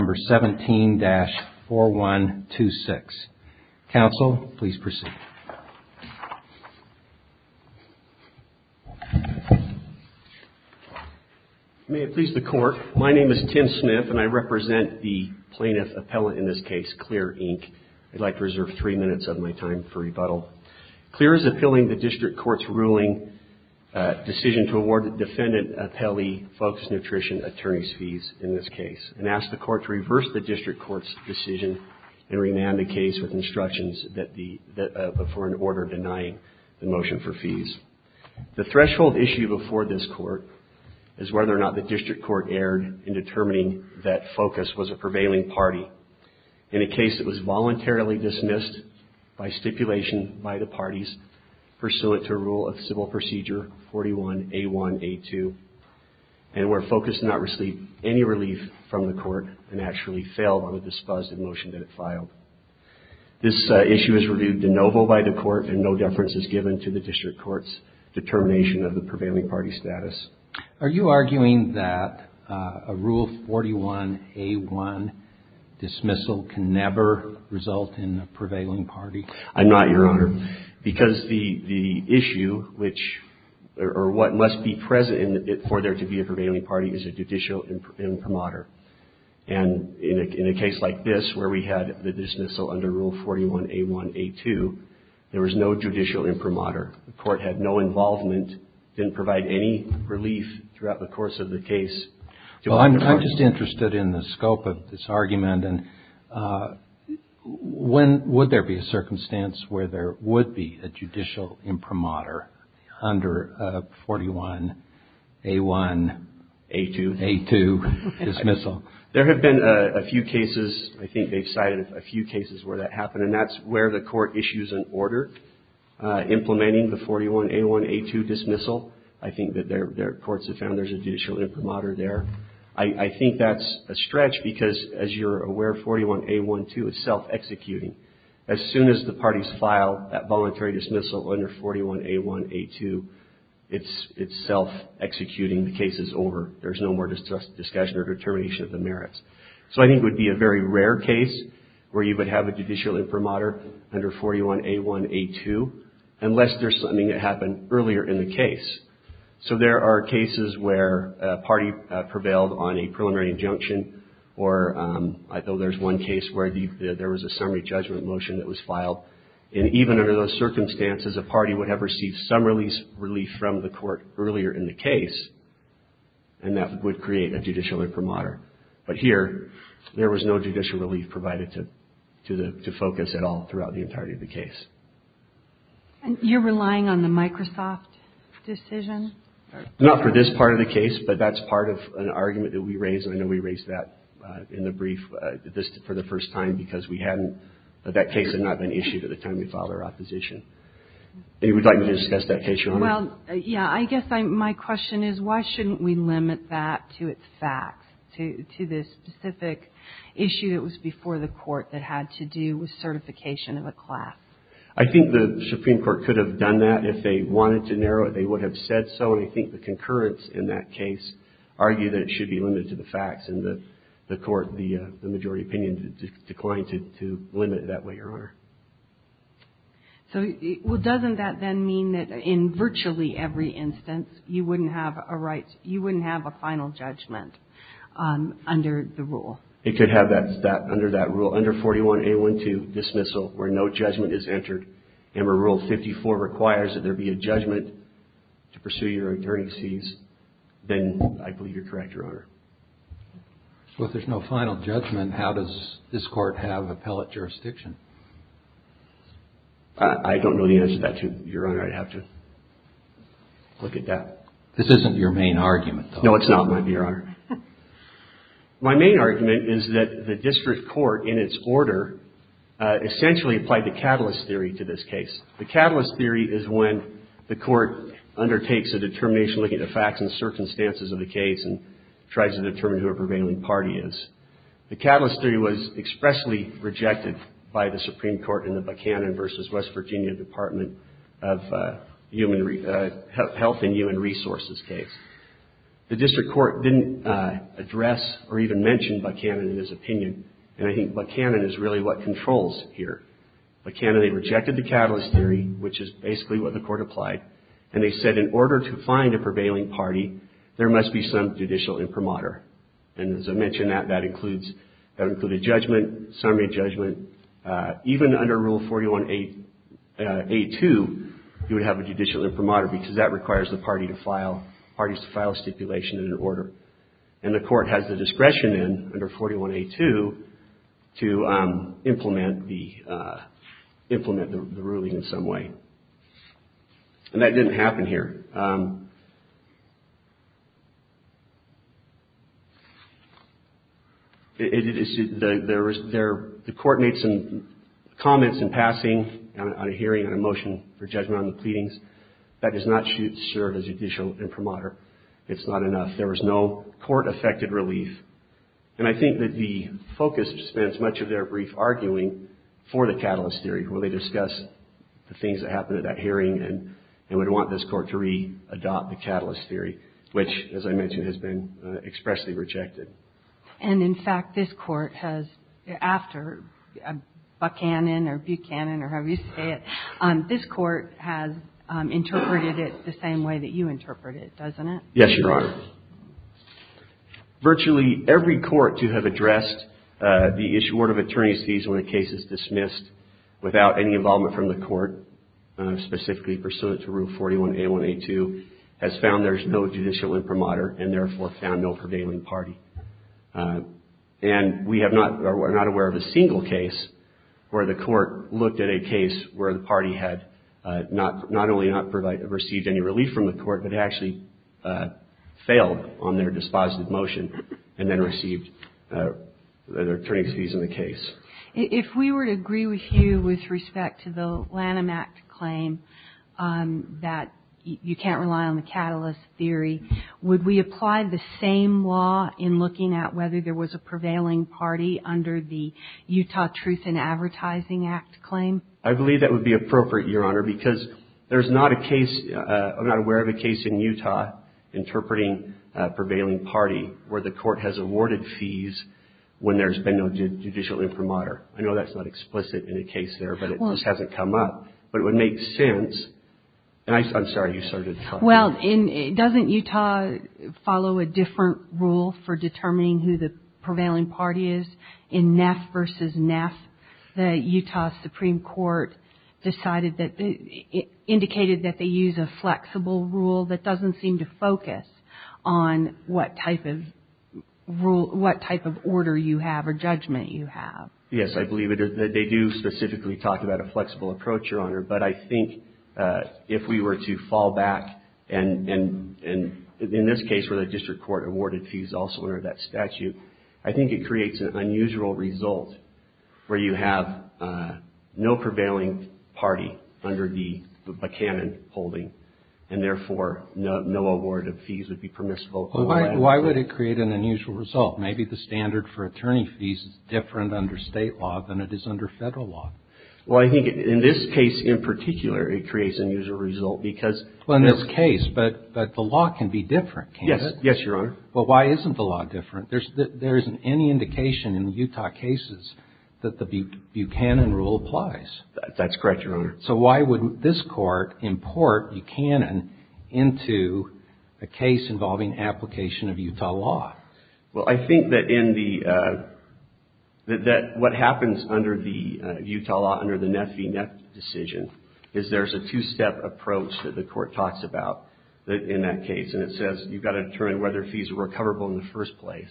17-4126. Counsel, please proceed. May it please the Court, my name is Tim Smith and I represent the Plaintiff Appellant in this case, Clear, Inc. I'd like to reserve three minutes of my time for rebuttal. Clear is appealing the District Court's ruling decision to award the Defendant Appellee Focus Nutrition attorney's fees in this case and ask the Court to reverse the District Court's decision and remand the case with instructions for an order denying the motion for fees. The threshold issue before this Court is whether or not the District Court erred in determining that Focus was a prevailing party in a case that was voluntarily dismissed by stipulation by the parties pursuant to Rule of Civil Procedure 41A1A2 and where Focus did not receive any relief from the Court and actually failed on the disposed motion that it filed. This issue is reviewed de novo by the Court and no deference is given to the District Court's determination of the prevailing party status. Are you arguing that a Rule 41A1 dismissal can never result in a prevailing party? I'm not, Your Honor, because the issue which or what must be present for there to be a prevailing party is a judicial imprimatur. And in a case like this where we had the dismissal under Rule 41A1A2, there was no judicial imprimatur. The Court had no involvement, didn't provide any relief throughout the course of the case. I'm just interested in the scope of this argument and would there be a circumstance where there would be a judicial imprimatur under 41A1A2 dismissal? There have been a few cases, I think they've cited a few cases where that happened and that's where the Court issues an order implementing the 41A1A2 dismissal. I think that their courts have found there's a judicial imprimatur there. I think that's a stretch because, as you're aware, 41A1A2 is self-executing. As soon as the parties file that voluntary dismissal under 41A1A2, it's self-executing. The case is over. There's no more discussion or determination of the merits. So I think it would be a very rare case where you would have a judicial imprimatur under 41A1A2. So there are cases where a party prevailed on a preliminary injunction or I know there's one case where there was a summary judgment motion that was filed. And even under those circumstances, a party would have received some relief from the Court earlier in the case and that would create a judicial imprimatur. But here, there was no judicial relief provided to focus at all throughout the entirety of the case. And you're relying on the Microsoft decision? Not for this part of the case, but that's part of an argument that we raised and I know we raised that in the brief for the first time because we hadn't, that case had not been issued at the time we filed our opposition. And you would like me to discuss that case your way? Well, yeah, I guess my question is why shouldn't we limit that to its facts, to the specific issue that was before the Court that had to do with certification of a class? I think the Supreme Court could have done that if they wanted to narrow it. They would have said so. And I think the concurrence in that case argued that it should be limited to the facts and the Court, the majority opinion declined to limit it that way, Your Honor. So, well, doesn't that then mean that in virtually every instance, you wouldn't have a final judgment under the rule? It could have that, under that rule, under 41A12, dismissal, where no judgment is entered and where Rule 54 requires that there be a judgment to pursue your attorney's fees, then I believe you're correct, Your Honor. So if there's no final judgment, how does this Court have appellate jurisdiction? I don't know the answer to that, Your Honor. I'd have to look at that. This isn't your main argument, though. No, it's not, Your Honor. My main argument is that the District Court, in its order, essentially applied the Catalyst Theory to this case. The Catalyst Theory is when the Court undertakes a determination looking at the facts and circumstances of the case and tries to determine who a prevailing party is. The Catalyst Theory was expressly rejected by the Supreme Court in the Buchanan v. West Virginia Department of Health and Human Resources case. The District Court didn't address or even mention Buchanan in this opinion, and I think Buchanan is really what controls here. Buchanan, they rejected the Catalyst Theory, which is basically what the Court applied, and they said in order to find a prevailing party, there must be some judicial imprimatur. And as I mentioned, that includes a judgment, summary judgment. Even under Rule 41A2, you would have a judicial imprimatur because that requires file stipulation and an order. And the Court has the discretion in under 41A2 to implement the ruling in some way. And that didn't happen here. The Court made some comments in passing on a hearing, on a motion for judgment on the Catalyst Theory. It's not enough. There was no court-affected relief. And I think that the focus spends much of their brief arguing for the Catalyst Theory, where they discuss the things that happened at that hearing and would want this Court to re-adopt the Catalyst Theory, which, as I mentioned, has been expressly rejected. And in fact, this Court has, after Buchanan or Buchanan or however you say it, this Court has interpreted it the same way that you interpret it, doesn't it? Yes, Your Honor. Virtually every court to have addressed the issue, word of attorney's thesis, when a case is dismissed without any involvement from the Court, specifically pursuant to Rule 41A1A2, has found there's no judicial imprimatur and therefore found no prevailing party. And we have not or are not aware of a single case where the Court looked at a case where the party had not only not received any relief from the Court, but actually failed on their dispositive motion and then received their attorney's fees in the case. If we were to agree with you with respect to the Lanham Act claim that you can't rely on the Catalyst Theory, would we apply the same law in looking at whether there was a I believe that would be appropriate, Your Honor, because there's not a case, I'm not aware of a case in Utah interpreting a prevailing party where the Court has awarded fees when there's been no judicial imprimatur. I know that's not explicit in the case there, but it just hasn't come up. But it would make sense, and I'm sorry, you started talking. Well, doesn't Utah follow a different rule for determining who the prevailing party is In Neff v. Neff, the Utah Supreme Court indicated that they use a flexible rule that doesn't seem to focus on what type of order you have or judgment you have. Yes, I believe that they do specifically talk about a flexible approach, Your Honor, but I think if we were to fall back, and in this case where the district court awarded fees also under that statute, I think it creates an unusual result where you have no prevailing party under the Buchanan holding, and therefore no award of fees would be permissible. Why would it create an unusual result? Maybe the standard for attorney fees is different under state law than it is under federal law. Well, I think in this case in particular, it creates an unusual result because Well, in this case, but the law can be different, can't it? Yes, Your Honor. But why isn't the law different? There isn't any indication in Utah cases that the Buchanan rule applies. That's correct, Your Honor. So why would this court import Buchanan into a case involving application of Utah law? Well, I think that what happens under the Utah law, under the Neff v. Neff decision, is there's a two-step approach that the court talks about in that case, and it says you've got to determine whether fees are recoverable in the first place.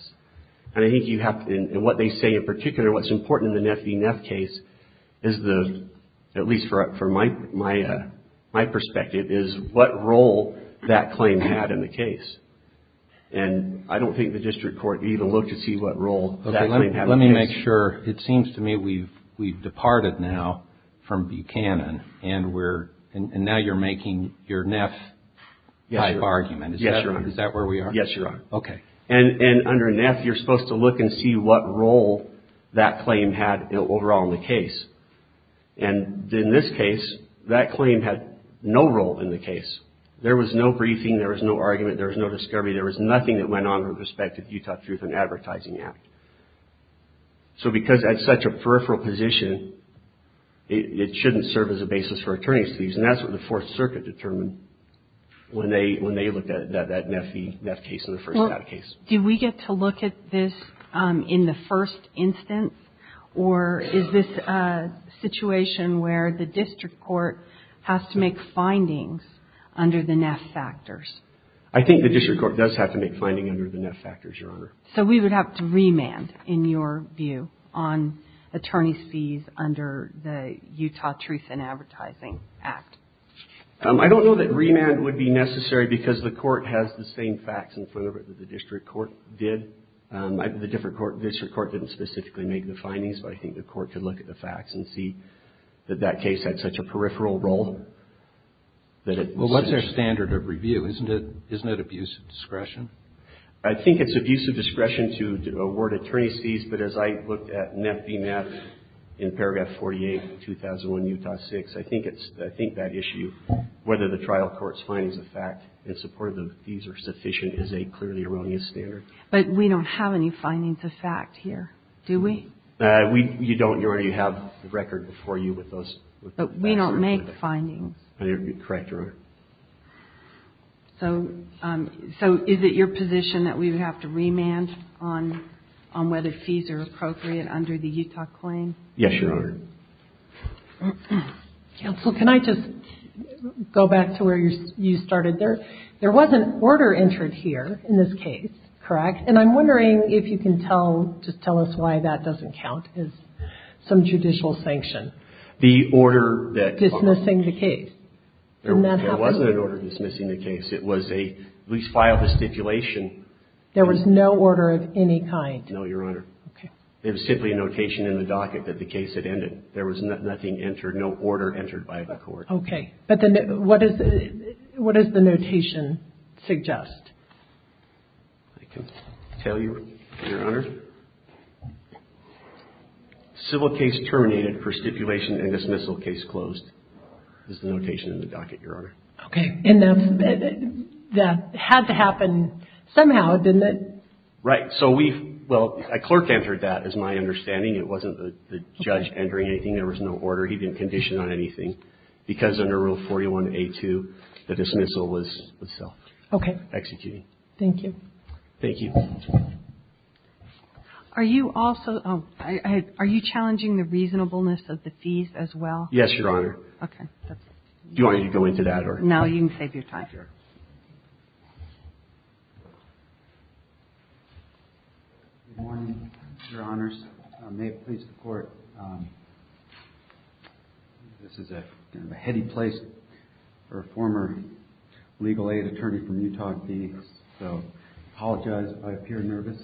And I think you have to, and what they say in particular, what's important in the Neff v. Neff case is the, at least from my perspective, is what role that claim had in the case. And I don't think the district court even looked to see what role that claim had. Let me make sure. It seems to me we've departed now from Buchanan, and we're, and now you're Yes, Your Honor. Is that where we are? Yes, Your Honor. Okay. And under Neff, you're supposed to look and see what role that claim had overall in the case. And in this case, that claim had no role in the case. There was no briefing, there was no argument, there was no discovery, there was nothing that went on with respect to the Utah Truth in Advertising Act. So because that's such a peripheral position, it shouldn't serve as a basis for attorney's fees. And that's what the Fourth Circuit determined when they looked at that Neff case and the first Neff case. Well, did we get to look at this in the first instance, or is this a situation where the district court has to make findings under the Neff factors? I think the district court does have to make findings under the Neff factors, Your Honor. So we would have to remand, in your view, on attorney's fees under the Utah Truth in Advertising Act. I don't know that remand would be necessary because the court has the same facts in front of it that the district court did. The district court didn't specifically make the findings, but I think the court could look at the facts and see that that case had such a peripheral role that it was... Well, what's their standard of review? Isn't it abuse of discretion? I think it's abuse of discretion to award attorney's fees, but as I looked at Neff v. 2008 and 2001 Utah 6, I think that issue, whether the trial court's findings of fact in support of the fees are sufficient, is a clearly erroneous standard. But we don't have any findings of fact here, do we? You don't, Your Honor. You have the record before you with those facts. But we don't make findings. Correct, Your Honor. So is it your position that we would have to remand on whether fees are appropriate under the Utah claim? Yes, Your Honor. Counsel, can I just go back to where you started? There wasn't order entered here in this case, correct? And I'm wondering if you can tell, just tell us why that doesn't count as some judicial sanction. The order that... Dismissing the case. There wasn't an order dismissing the case. It was a lease file, the stipulation. There was no order of any kind. No, Your Honor. It was simply a notation in the docket that the case had ended. There was nothing entered, no order entered by the court. Okay. But what does the notation suggest? I can tell you, Your Honor. Civil case terminated, for stipulation and dismissal case closed, is the notation in the docket, Your Honor. Okay. And that had to happen somehow, didn't it? Right. So we, well, a clerk entered that, is my understanding. It wasn't the judge entering anything. There was no order. He didn't condition on anything because under Rule 41A2, the dismissal was self-executing. Okay. Thank you. Thank you. Are you also, are you challenging the reasonableness of the fees as well? Yes, Your Honor. Okay. Do you want me to go into that? No, you can save your time. Okay. Good morning, Your Honors. I may have pleased the court. This is a kind of a heady place for a former legal aid attorney from Utah and Phoenix. So I apologize if I appear nervous.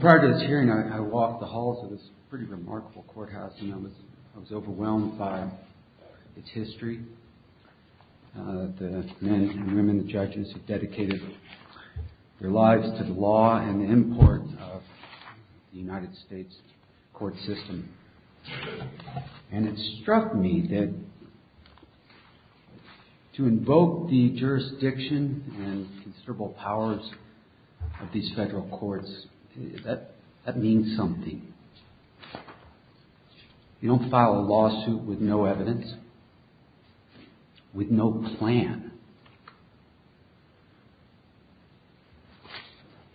Prior to this hearing, I walked the halls of this pretty remarkable courthouse and I was overwhelmed by its history. The men and women judges have dedicated their lives to the law and import of the United States court system. And it struck me that to invoke the jurisdiction and considerable powers of these federal courts, that means something. You don't file a lawsuit with no evidence. With no plan.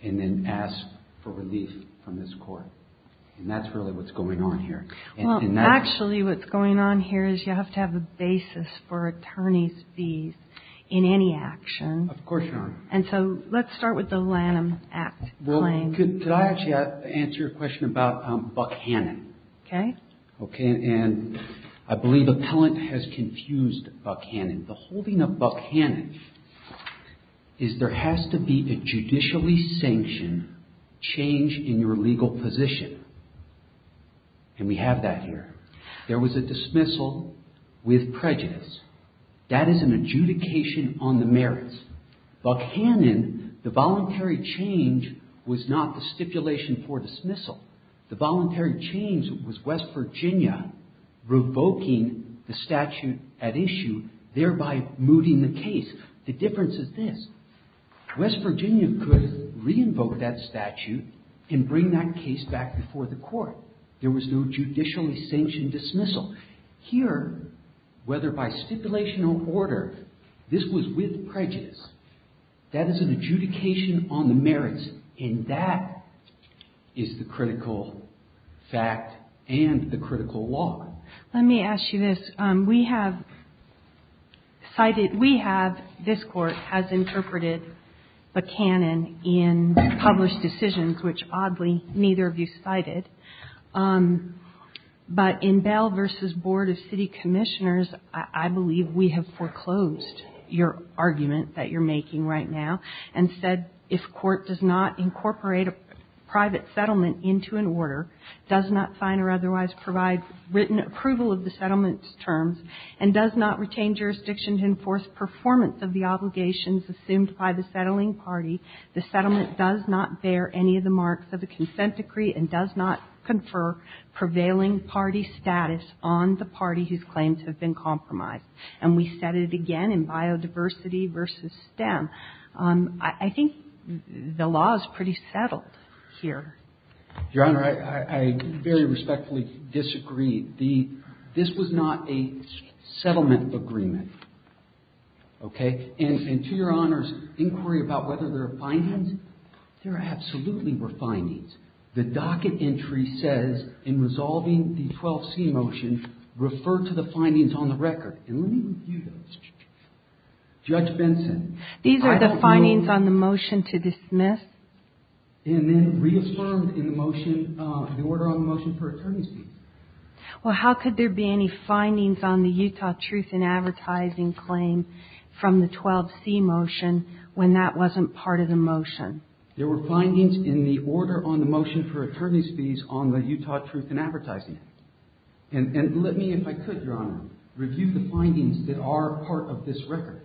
And then ask for relief from this court. And that's really what's going on here. Well, actually what's going on here is you have to have a basis for attorney's fees in any action. Of course, Your Honor. And so let's start with the Lanham Act claim. Well, could I actually answer your question about Buck Hannon? Okay. Okay. And I believe appellant has confused Buck Hannon. The holding of Buck Hannon is there has to be a judicially sanctioned change in your legal position. And we have that here. There was a dismissal with prejudice. That is an adjudication on the merits. Buck Hannon, the voluntary change was not a stipulation for dismissal. The voluntary change was West Virginia revoking the statute at issue, thereby mooting the case. The difference is this. West Virginia could re-invoke that statute and bring that case back before the court. There was no judicially sanctioned dismissal. Here, whether by stipulation or order, this was with prejudice. That is an adjudication on the merits. And that is the critical fact and the critical law. Let me ask you this. We have cited, we have, this Court has interpreted Buck Hannon in published decisions, which oddly neither of you cited. But in Bell v. Board of City Commissioners, I believe we have foreclosed your attention to the fact that the court does not incorporate a private settlement into an order, does not sign or otherwise provide written approval of the settlement's terms, and does not retain jurisdiction to enforce performance of the obligations assumed by the settling party. The settlement does not bear any of the marks of a consent decree and does not confer prevailing party status on the party whose claims have been compromised. And we said it again in Biodiversity v. STEM. I think the law is pretty settled here. Your Honor, I very respectfully disagree. This was not a settlement agreement. Okay? And to Your Honor's inquiry about whether there are findings, there absolutely were findings. The docket entry says in resolving the 12C motion, refer to the findings on the record. And let me review those. Judge Benson. These are the findings on the motion to dismiss. And then reaffirmed in the motion, the order on the motion for attorney's fees. Well, how could there be any findings on the Utah Truth in Advertising claim from the 12C motion when that wasn't part of the motion? There were findings in the order on the motion for attorney's fees on the Utah Truth in Advertising. And let me, if I could, Your Honor, review the findings that are part of this record.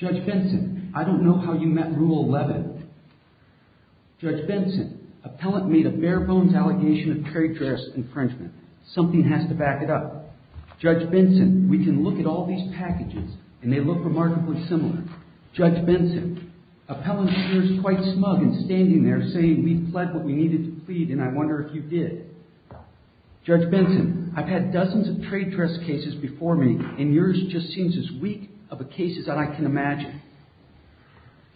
Judge Benson, I don't know how you met Rule 11. Judge Benson, appellant made a bare-bones allegation of trade dress infringement. Something has to back it up. Judge Benson, we can look at all these packages and they look remarkably similar. Judge Benson, appellant appears quite smug in standing there saying we've pled what we needed to plead and I wonder if you did. Judge Benson, I've had dozens of trade dress cases before me and yours just seems as weak of a case as I can imagine.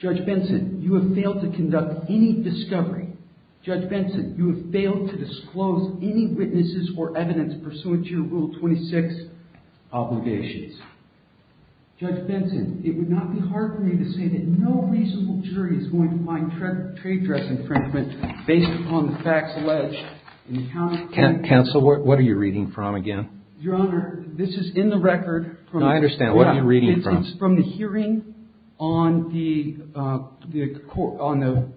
Judge Benson, you have failed to conduct any discovery. Judge Benson, you have failed to disclose any witnesses or evidence pursuant to your Rule 26 obligations. Judge Benson, it would not be hard for me to say that no reasonable jury is going to find trade dress infringement based upon the facts alleged. Counsel, what are you reading from again? Your Honor, this is in the record. I understand. What are you reading from? It's from the hearing on the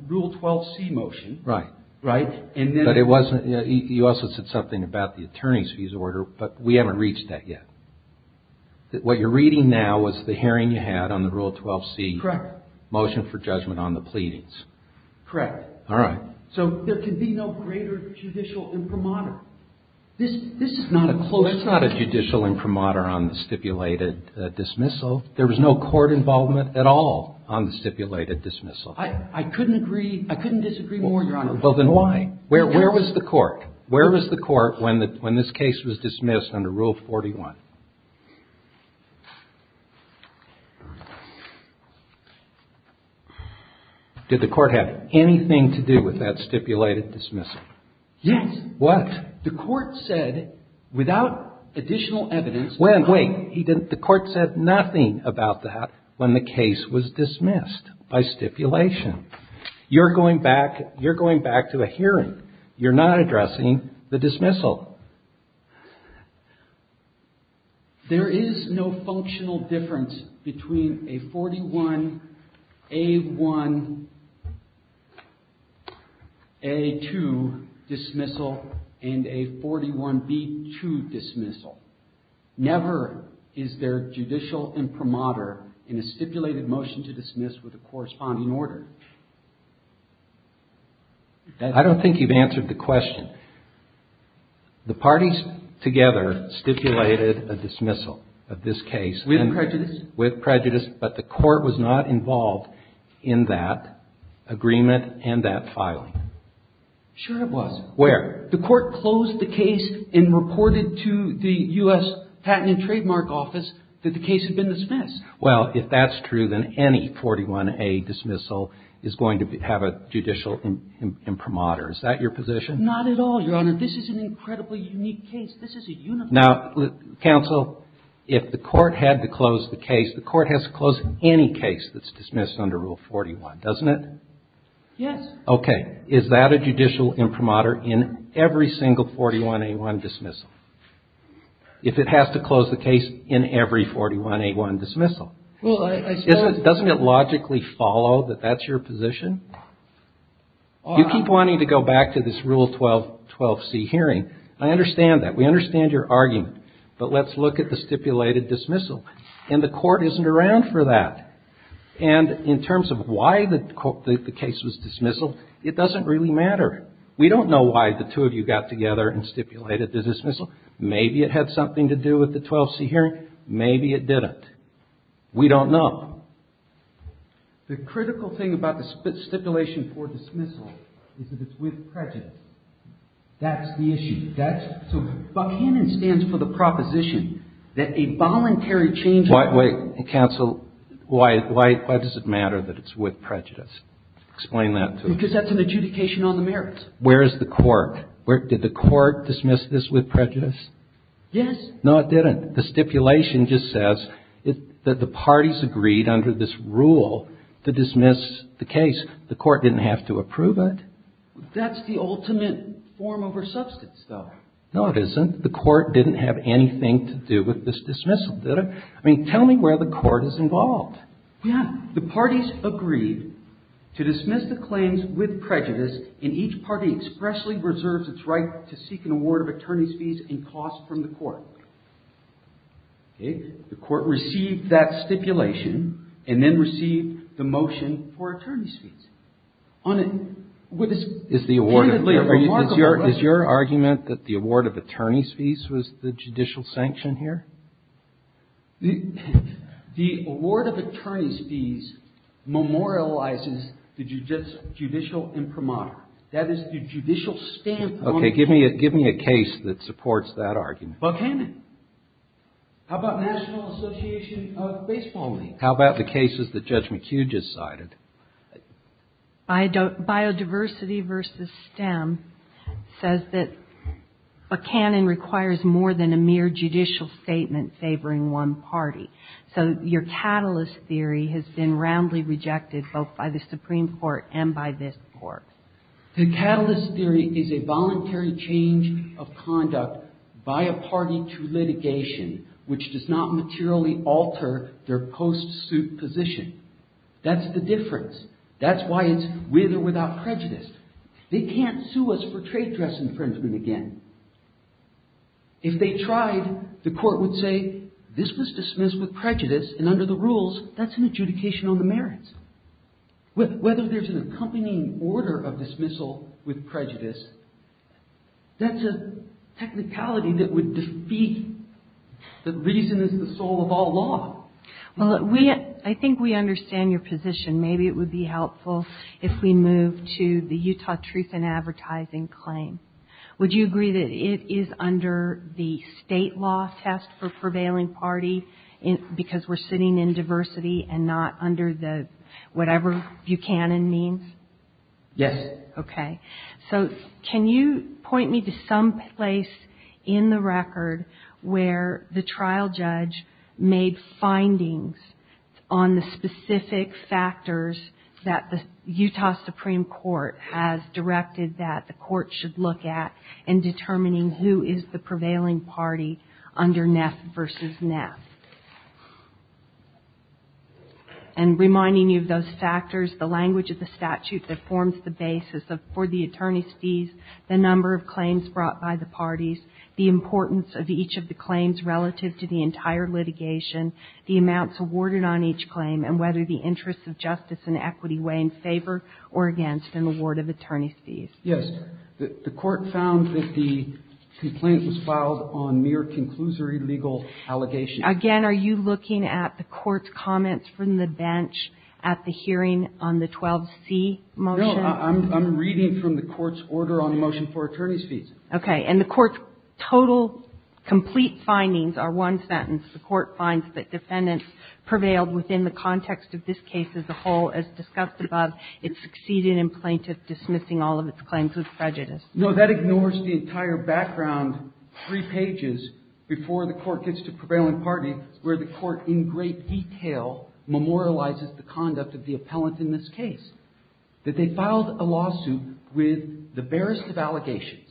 Rule 12c motion. Right. But you also said something about the attorney's fees order, but we haven't reached that yet. What you're reading now was the hearing you had on the Rule 12c motion for judgment on the pleadings. Correct. All right. So there can be no greater judicial imprimatur. That's not a judicial imprimatur on the stipulated dismissal. There was no court involvement at all on the stipulated dismissal. I couldn't disagree more, Your Honor. Well, then why? Where was the court when this case was dismissed under Rule 41? Did the court have anything to do with that stipulated dismissal? Yes. What? The court said without additional evidence. Wait. The court said nothing about that when the case was dismissed by stipulation. You're going back to a hearing. You're not addressing the dismissal. All right. There is no functional difference between a 41A1A2 dismissal and a 41B2 dismissal. Never is there judicial imprimatur in a stipulated motion to dismiss with a corresponding order. I don't think you've answered the question. The parties together stipulated a dismissal of this case. With prejudice. With prejudice. But the court was not involved in that agreement and that filing. Sure it was. Where? The court closed the case and reported to the U.S. Patent and Trademark Office that the case had been dismissed. Well, if that's true, then any 41A dismissal is going to have a judicial imprimatur. Is that your position? Not at all, Your Honor. This is an incredibly unique case. Now, counsel, if the court had to close the case, the court has to close any case that's dismissed under Rule 41, doesn't it? Yes. Okay. Is that a judicial imprimatur in every single 41A1 dismissal? If it has to close the case in every 41A1 dismissal, doesn't it logically follow that that's your position? You keep wanting to go back to this Rule 12C hearing. I understand that. We understand your argument. But let's look at the stipulated dismissal. And the court isn't around for that. And in terms of why the case was dismissed, it doesn't really matter. We don't know why the two of you got together and stipulated the dismissal. Maybe it had something to do with the 12C hearing. Maybe it didn't. We don't know. Now, the critical thing about the stipulation for dismissal is that it's with prejudice. That's the issue. That's the issue. Buckhannon stands for the proposition that a voluntary change... Wait, counsel. Why does it matter that it's with prejudice? Explain that to me. Because that's an adjudication on the merits. Where is the quirk? Did the quirk dismiss this with prejudice? Yes. No, it didn't. The stipulation just says that the parties agreed under this rule to dismiss the case. The court didn't have to approve it. That's the ultimate form over substance, though. No, it isn't. The court didn't have anything to do with this dismissal, did it? I mean, tell me where the court is involved. Yeah. The parties agreed to dismiss the claims with prejudice, and each party expressly reserves its right to seek an award of attorney's fees and costs from the court. Okay? The court received that stipulation and then received the motion for attorney's fees. On a... Is the award of... Is your argument that the award of attorney's fees was the judicial sanction here? The award of attorney's fees memorializes the judicial imprimatur. That is the judicial standpoint. Okay. Give me a case that supports that argument. Buchanan. How about National Association of Baseball Managers? How about the cases that Judge McHugh just cited? Biodiversity versus STEM says that Buchanan requires more than a mere judicial statement favoring one party. So your catalyst theory has been roundly rejected both by the Supreme Court and by this Court. The catalyst theory is a voluntary change of conduct by a party to litigation, which does not materially alter their post-suit position. That's the difference. That's why it's with or without prejudice. They can't sue us for trade dress infringement again. If they tried, the court would say, this was dismissed with prejudice, and under the rules, that's an adjudication on the merits. Whether there's an accompanying order of dismissal with prejudice, that's a technicality that would defeat the reason is the soul of all law. Well, I think we understand your position. Maybe it would be helpful if we move to the Utah Truth in Advertising claim. Would you agree that it is under the state law test for prevailing party, because we're sitting in diversity and not under the whatever Buchanan means? Yes. Okay. So can you point me to some place in the record where the trial judge made findings on the specific factors that the Utah Supreme Court has directed that the court should look at in determining who is the prevailing party under Neff versus Neff? And reminding you of those factors, the language of the statute that forms the basis for the attorney's fees, the number of claims brought by the parties, the importance of each of the claims relative to the entire litigation, the amounts awarded on each claim, and whether the interests of justice and equity weigh in favor or against an award of attorney's fees. Yes. The court found that the complaint was filed on mere conclusory legal allegations. Again, are you looking at the court's comments from the bench at the hearing on the 12C motion? No. I'm reading from the court's order on the motion for attorney's fees. Okay. And the court's total complete findings are one sentence. The court finds that defendants prevailed within the context of this case as a whole. As discussed above, it succeeded in plaintiff dismissing all of its claims with prejudice. No, that ignores the entire background three pages before the court gets to prevailing party, where the court in great detail memorializes the conduct of the appellant in this case. That they filed a lawsuit with the barest of allegations,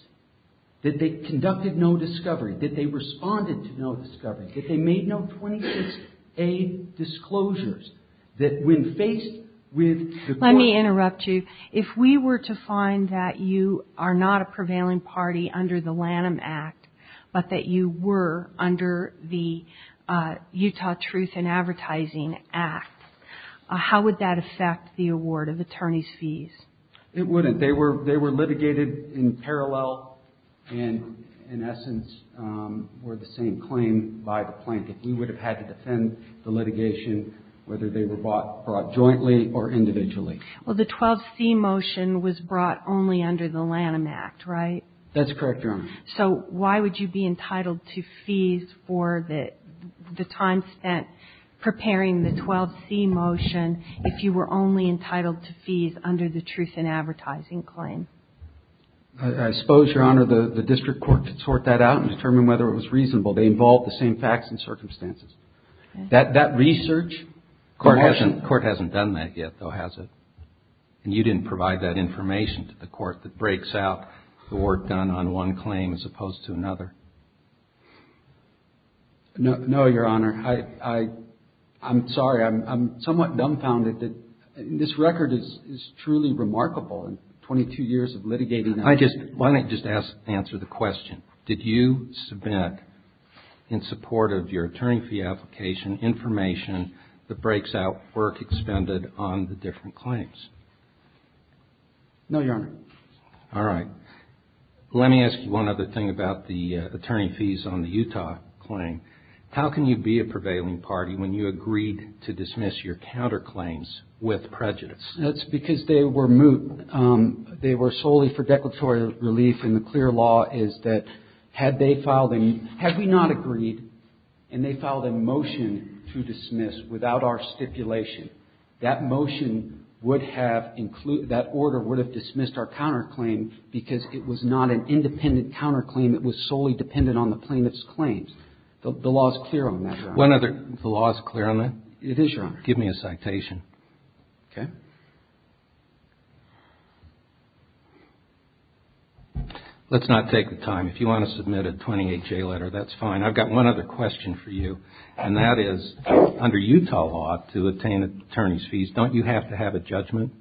that they conducted no discovery, that they responded to no discovery, that they made no 26A disclosures, that when faced with the court... Let me interrupt you. If we were to find that you are not a prevailing party under the Lanham Act, but that you were under the Utah Truth in Advertising Act, how would that affect the award of attorney's fees? It wouldn't. They were litigated in parallel, and in essence were the same claim by the plaintiff. We would have had to defend the litigation whether they were brought jointly or individually. Well, the 12C motion was brought only under the Lanham Act, right? That's correct, Your Honor. So why would you be entitled to fees for the time spent preparing the 12C motion if you were only entitled to fees under the Truth in Advertising claim? I suppose, Your Honor, the district court could sort that out and determine whether it was reasonable. They involved the same facts and circumstances. That research... The court hasn't done that yet, though, has it? And you didn't provide that information to the court that breaks out the work done on one claim as opposed to another? No, Your Honor. I'm sorry. I'm somewhat dumbfounded that this record is truly remarkable. In 22 years of litigating... Why don't you just answer the question. Did you submit, in support of your attorney fee application, information that breaks out work expended on the different claims? No, Your Honor. All right. Let me ask you one other thing about the attorney fees on the Utah claim. How can you be a prevailing party when you agreed to dismiss your counterclaims with prejudice? That's because they were moot. They were solely for declaratory relief, and the clear law is that had they filed... Your Honor, the court would have dismissed our counterclaim because it was not an independent counterclaim. It was solely dependent on the plaintiff's claims. The law is clear on that, Your Honor. The law is clear on that? It is, Your Honor. Give me a citation. Okay. Let's not take the time. If you want to submit a 28-J letter, that's fine. I've got one other question for you, and that is, under Utah law, to attain attorney's fees, don't you have to have a judgment?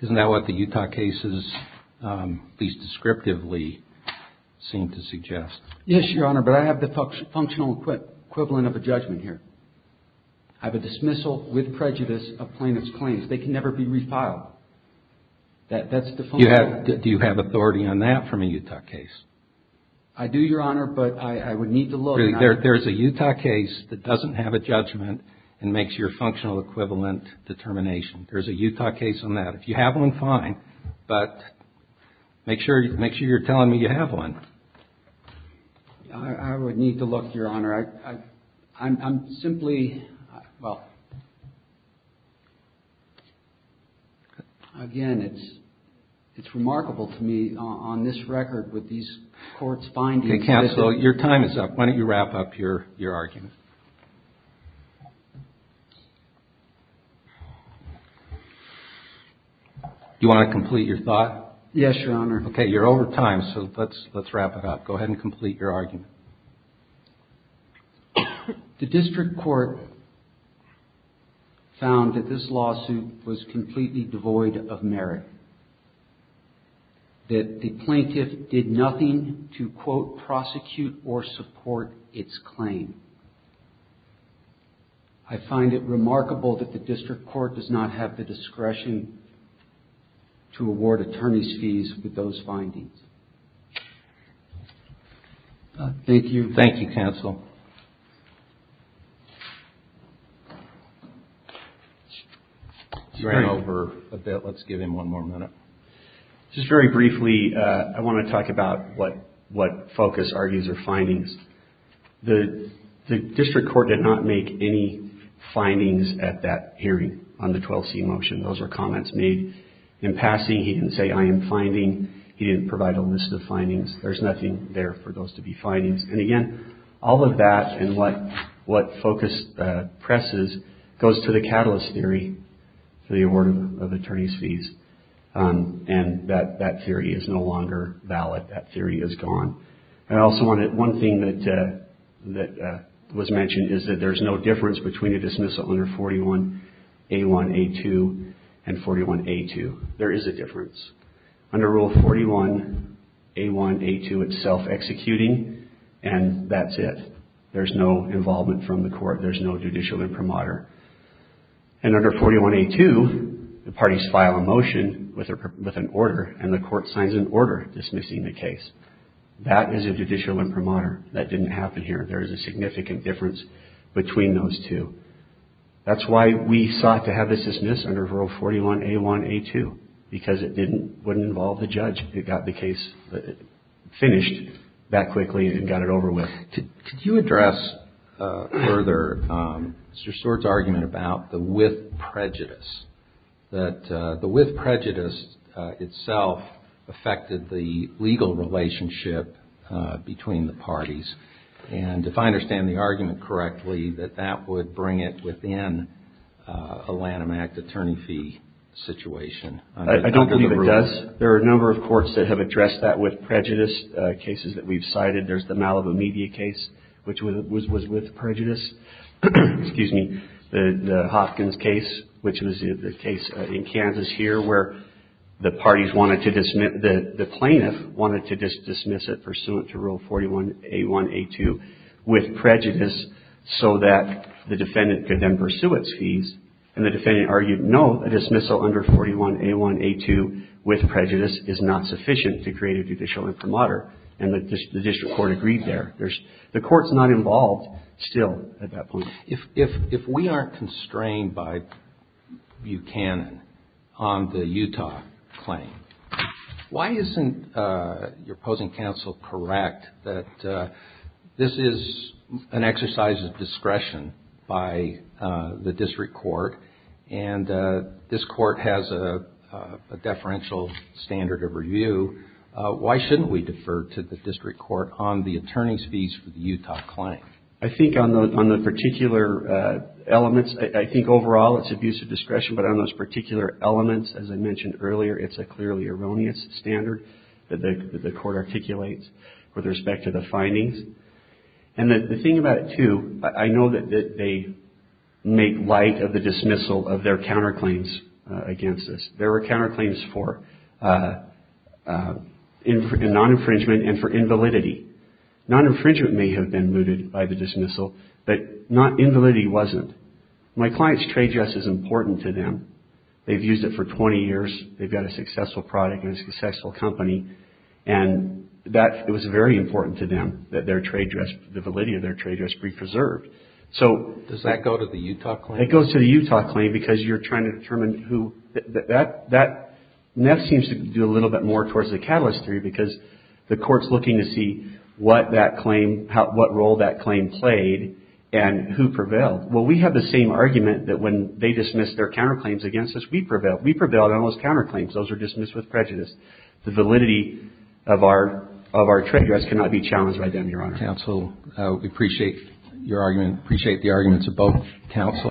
Isn't that what the Utah cases, at least descriptively, seem to suggest? Yes, Your Honor, but I have the functional equivalent of a judgment here. I have a dismissal with prejudice of plaintiff's claims. They can never be refiled. Do you have authority on that from a Utah case? I do, Your Honor, but I would need to look. There's a Utah case that doesn't have a judgment and makes your functional equivalent determination. There's a Utah case on that. If you have one, fine, but make sure you're telling me you have one. I would need to look, Your Honor. Again, it's remarkable to me on this record with these court's findings. Counsel, your time is up. Why don't you wrap up your argument? Do you want to complete your thought? Yes, Your Honor. Okay, you're over time, so let's wrap it up. Go ahead and complete your argument. The district court found that this lawsuit was completely devoid of merit, that the plaintiff did nothing to, quote, prosecute or support its claim. I find it remarkable that the district court does not have the discretion to award attorney's fees with those findings. Thank you, counsel. You ran over a bit. Let's give him one more minute. Just very briefly, I want to talk about what focus are these findings. The district court did not make any findings at that hearing on the 12C motion. Those are comments made in passing. He didn't say, I am finding. He didn't provide a list of findings. There's nothing there for those to be findings. And again, all of that and what focus presses goes to the catalyst theory for the award of attorney's fees. And that theory is no longer valid. That theory is gone. One thing that was mentioned is that there's no difference between a dismissal under 41A1A2 and 41A2. There is a difference. Under Rule 41A1A2, it's self-executing and that's it. There's no involvement from the court. There's no judicial imprimatur. And under 41A2, the parties file a motion with an order and the court signs an order dismissing the case. That is a judicial imprimatur. That didn't happen here. There is a significant difference between those two. That's why we sought to have this dismissed under Rule 41A1A2, because it wouldn't involve the judge. It got the case finished that quickly and got it over with. Could you address further Mr. Stewart's argument about the with prejudice, that the with prejudice itself affected the legal relationship between the parties? And if I understand the argument correctly, that that would bring it within a Lanham Act attorney fee situation? I don't believe it does. There are a number of courts that have addressed that with prejudice cases that we've cited. There's the Malibu media case, which was with prejudice. Excuse me, the Hopkins case, which was the case in Kansas here where the parties wanted to dismiss, the plaintiff wanted to dismiss it pursuant to Rule 41A1A2 with prejudice so that the defendant could then pursue its fees. And the defendant argued, no, a dismissal under 41A1A2 with prejudice is not sufficient to create a judicial imprimatur. And the district court agreed there. The court's not involved still at that point. If we aren't constrained by Buchanan on the Utah claim, why isn't your opposing counsel correct that this is an exercise of discretion by the district court? And this court has a deferential standard of review. Why shouldn't we defer to the district court on the attorney's fees for the Utah claim? I think on the particular elements, I think overall it's abuse of discretion, but on those particular elements, as I mentioned earlier, it's a clearly erroneous standard that the court articulates with respect to the findings. And the thing about it, too, I know that they make light of the dismissal of their counterclaims against this. There were counterclaims for non-infringement and for invalidity. Non-infringement may have been mooted by the dismissal, but invalidity wasn't. My client's trade dress is important to them. They've used it for 20 years. They've got a successful product and a successful company. And it was very important to them that the validity of their trade dress be preserved. Does that go to the Utah claim? It goes to the Utah claim because you're trying to determine who... That seems to do a little bit more towards the catalyst theory because the court's looking to see what role that claim played and who prevailed. Well, we have the same argument that when they dismissed their counterclaims against us, we prevailed. We prevailed on those counterclaims. Those were dismissed with prejudice. The validity of our trade dress cannot be challenged by them, Your Honor. Counsel, we appreciate your argument, appreciate the arguments of both counsel.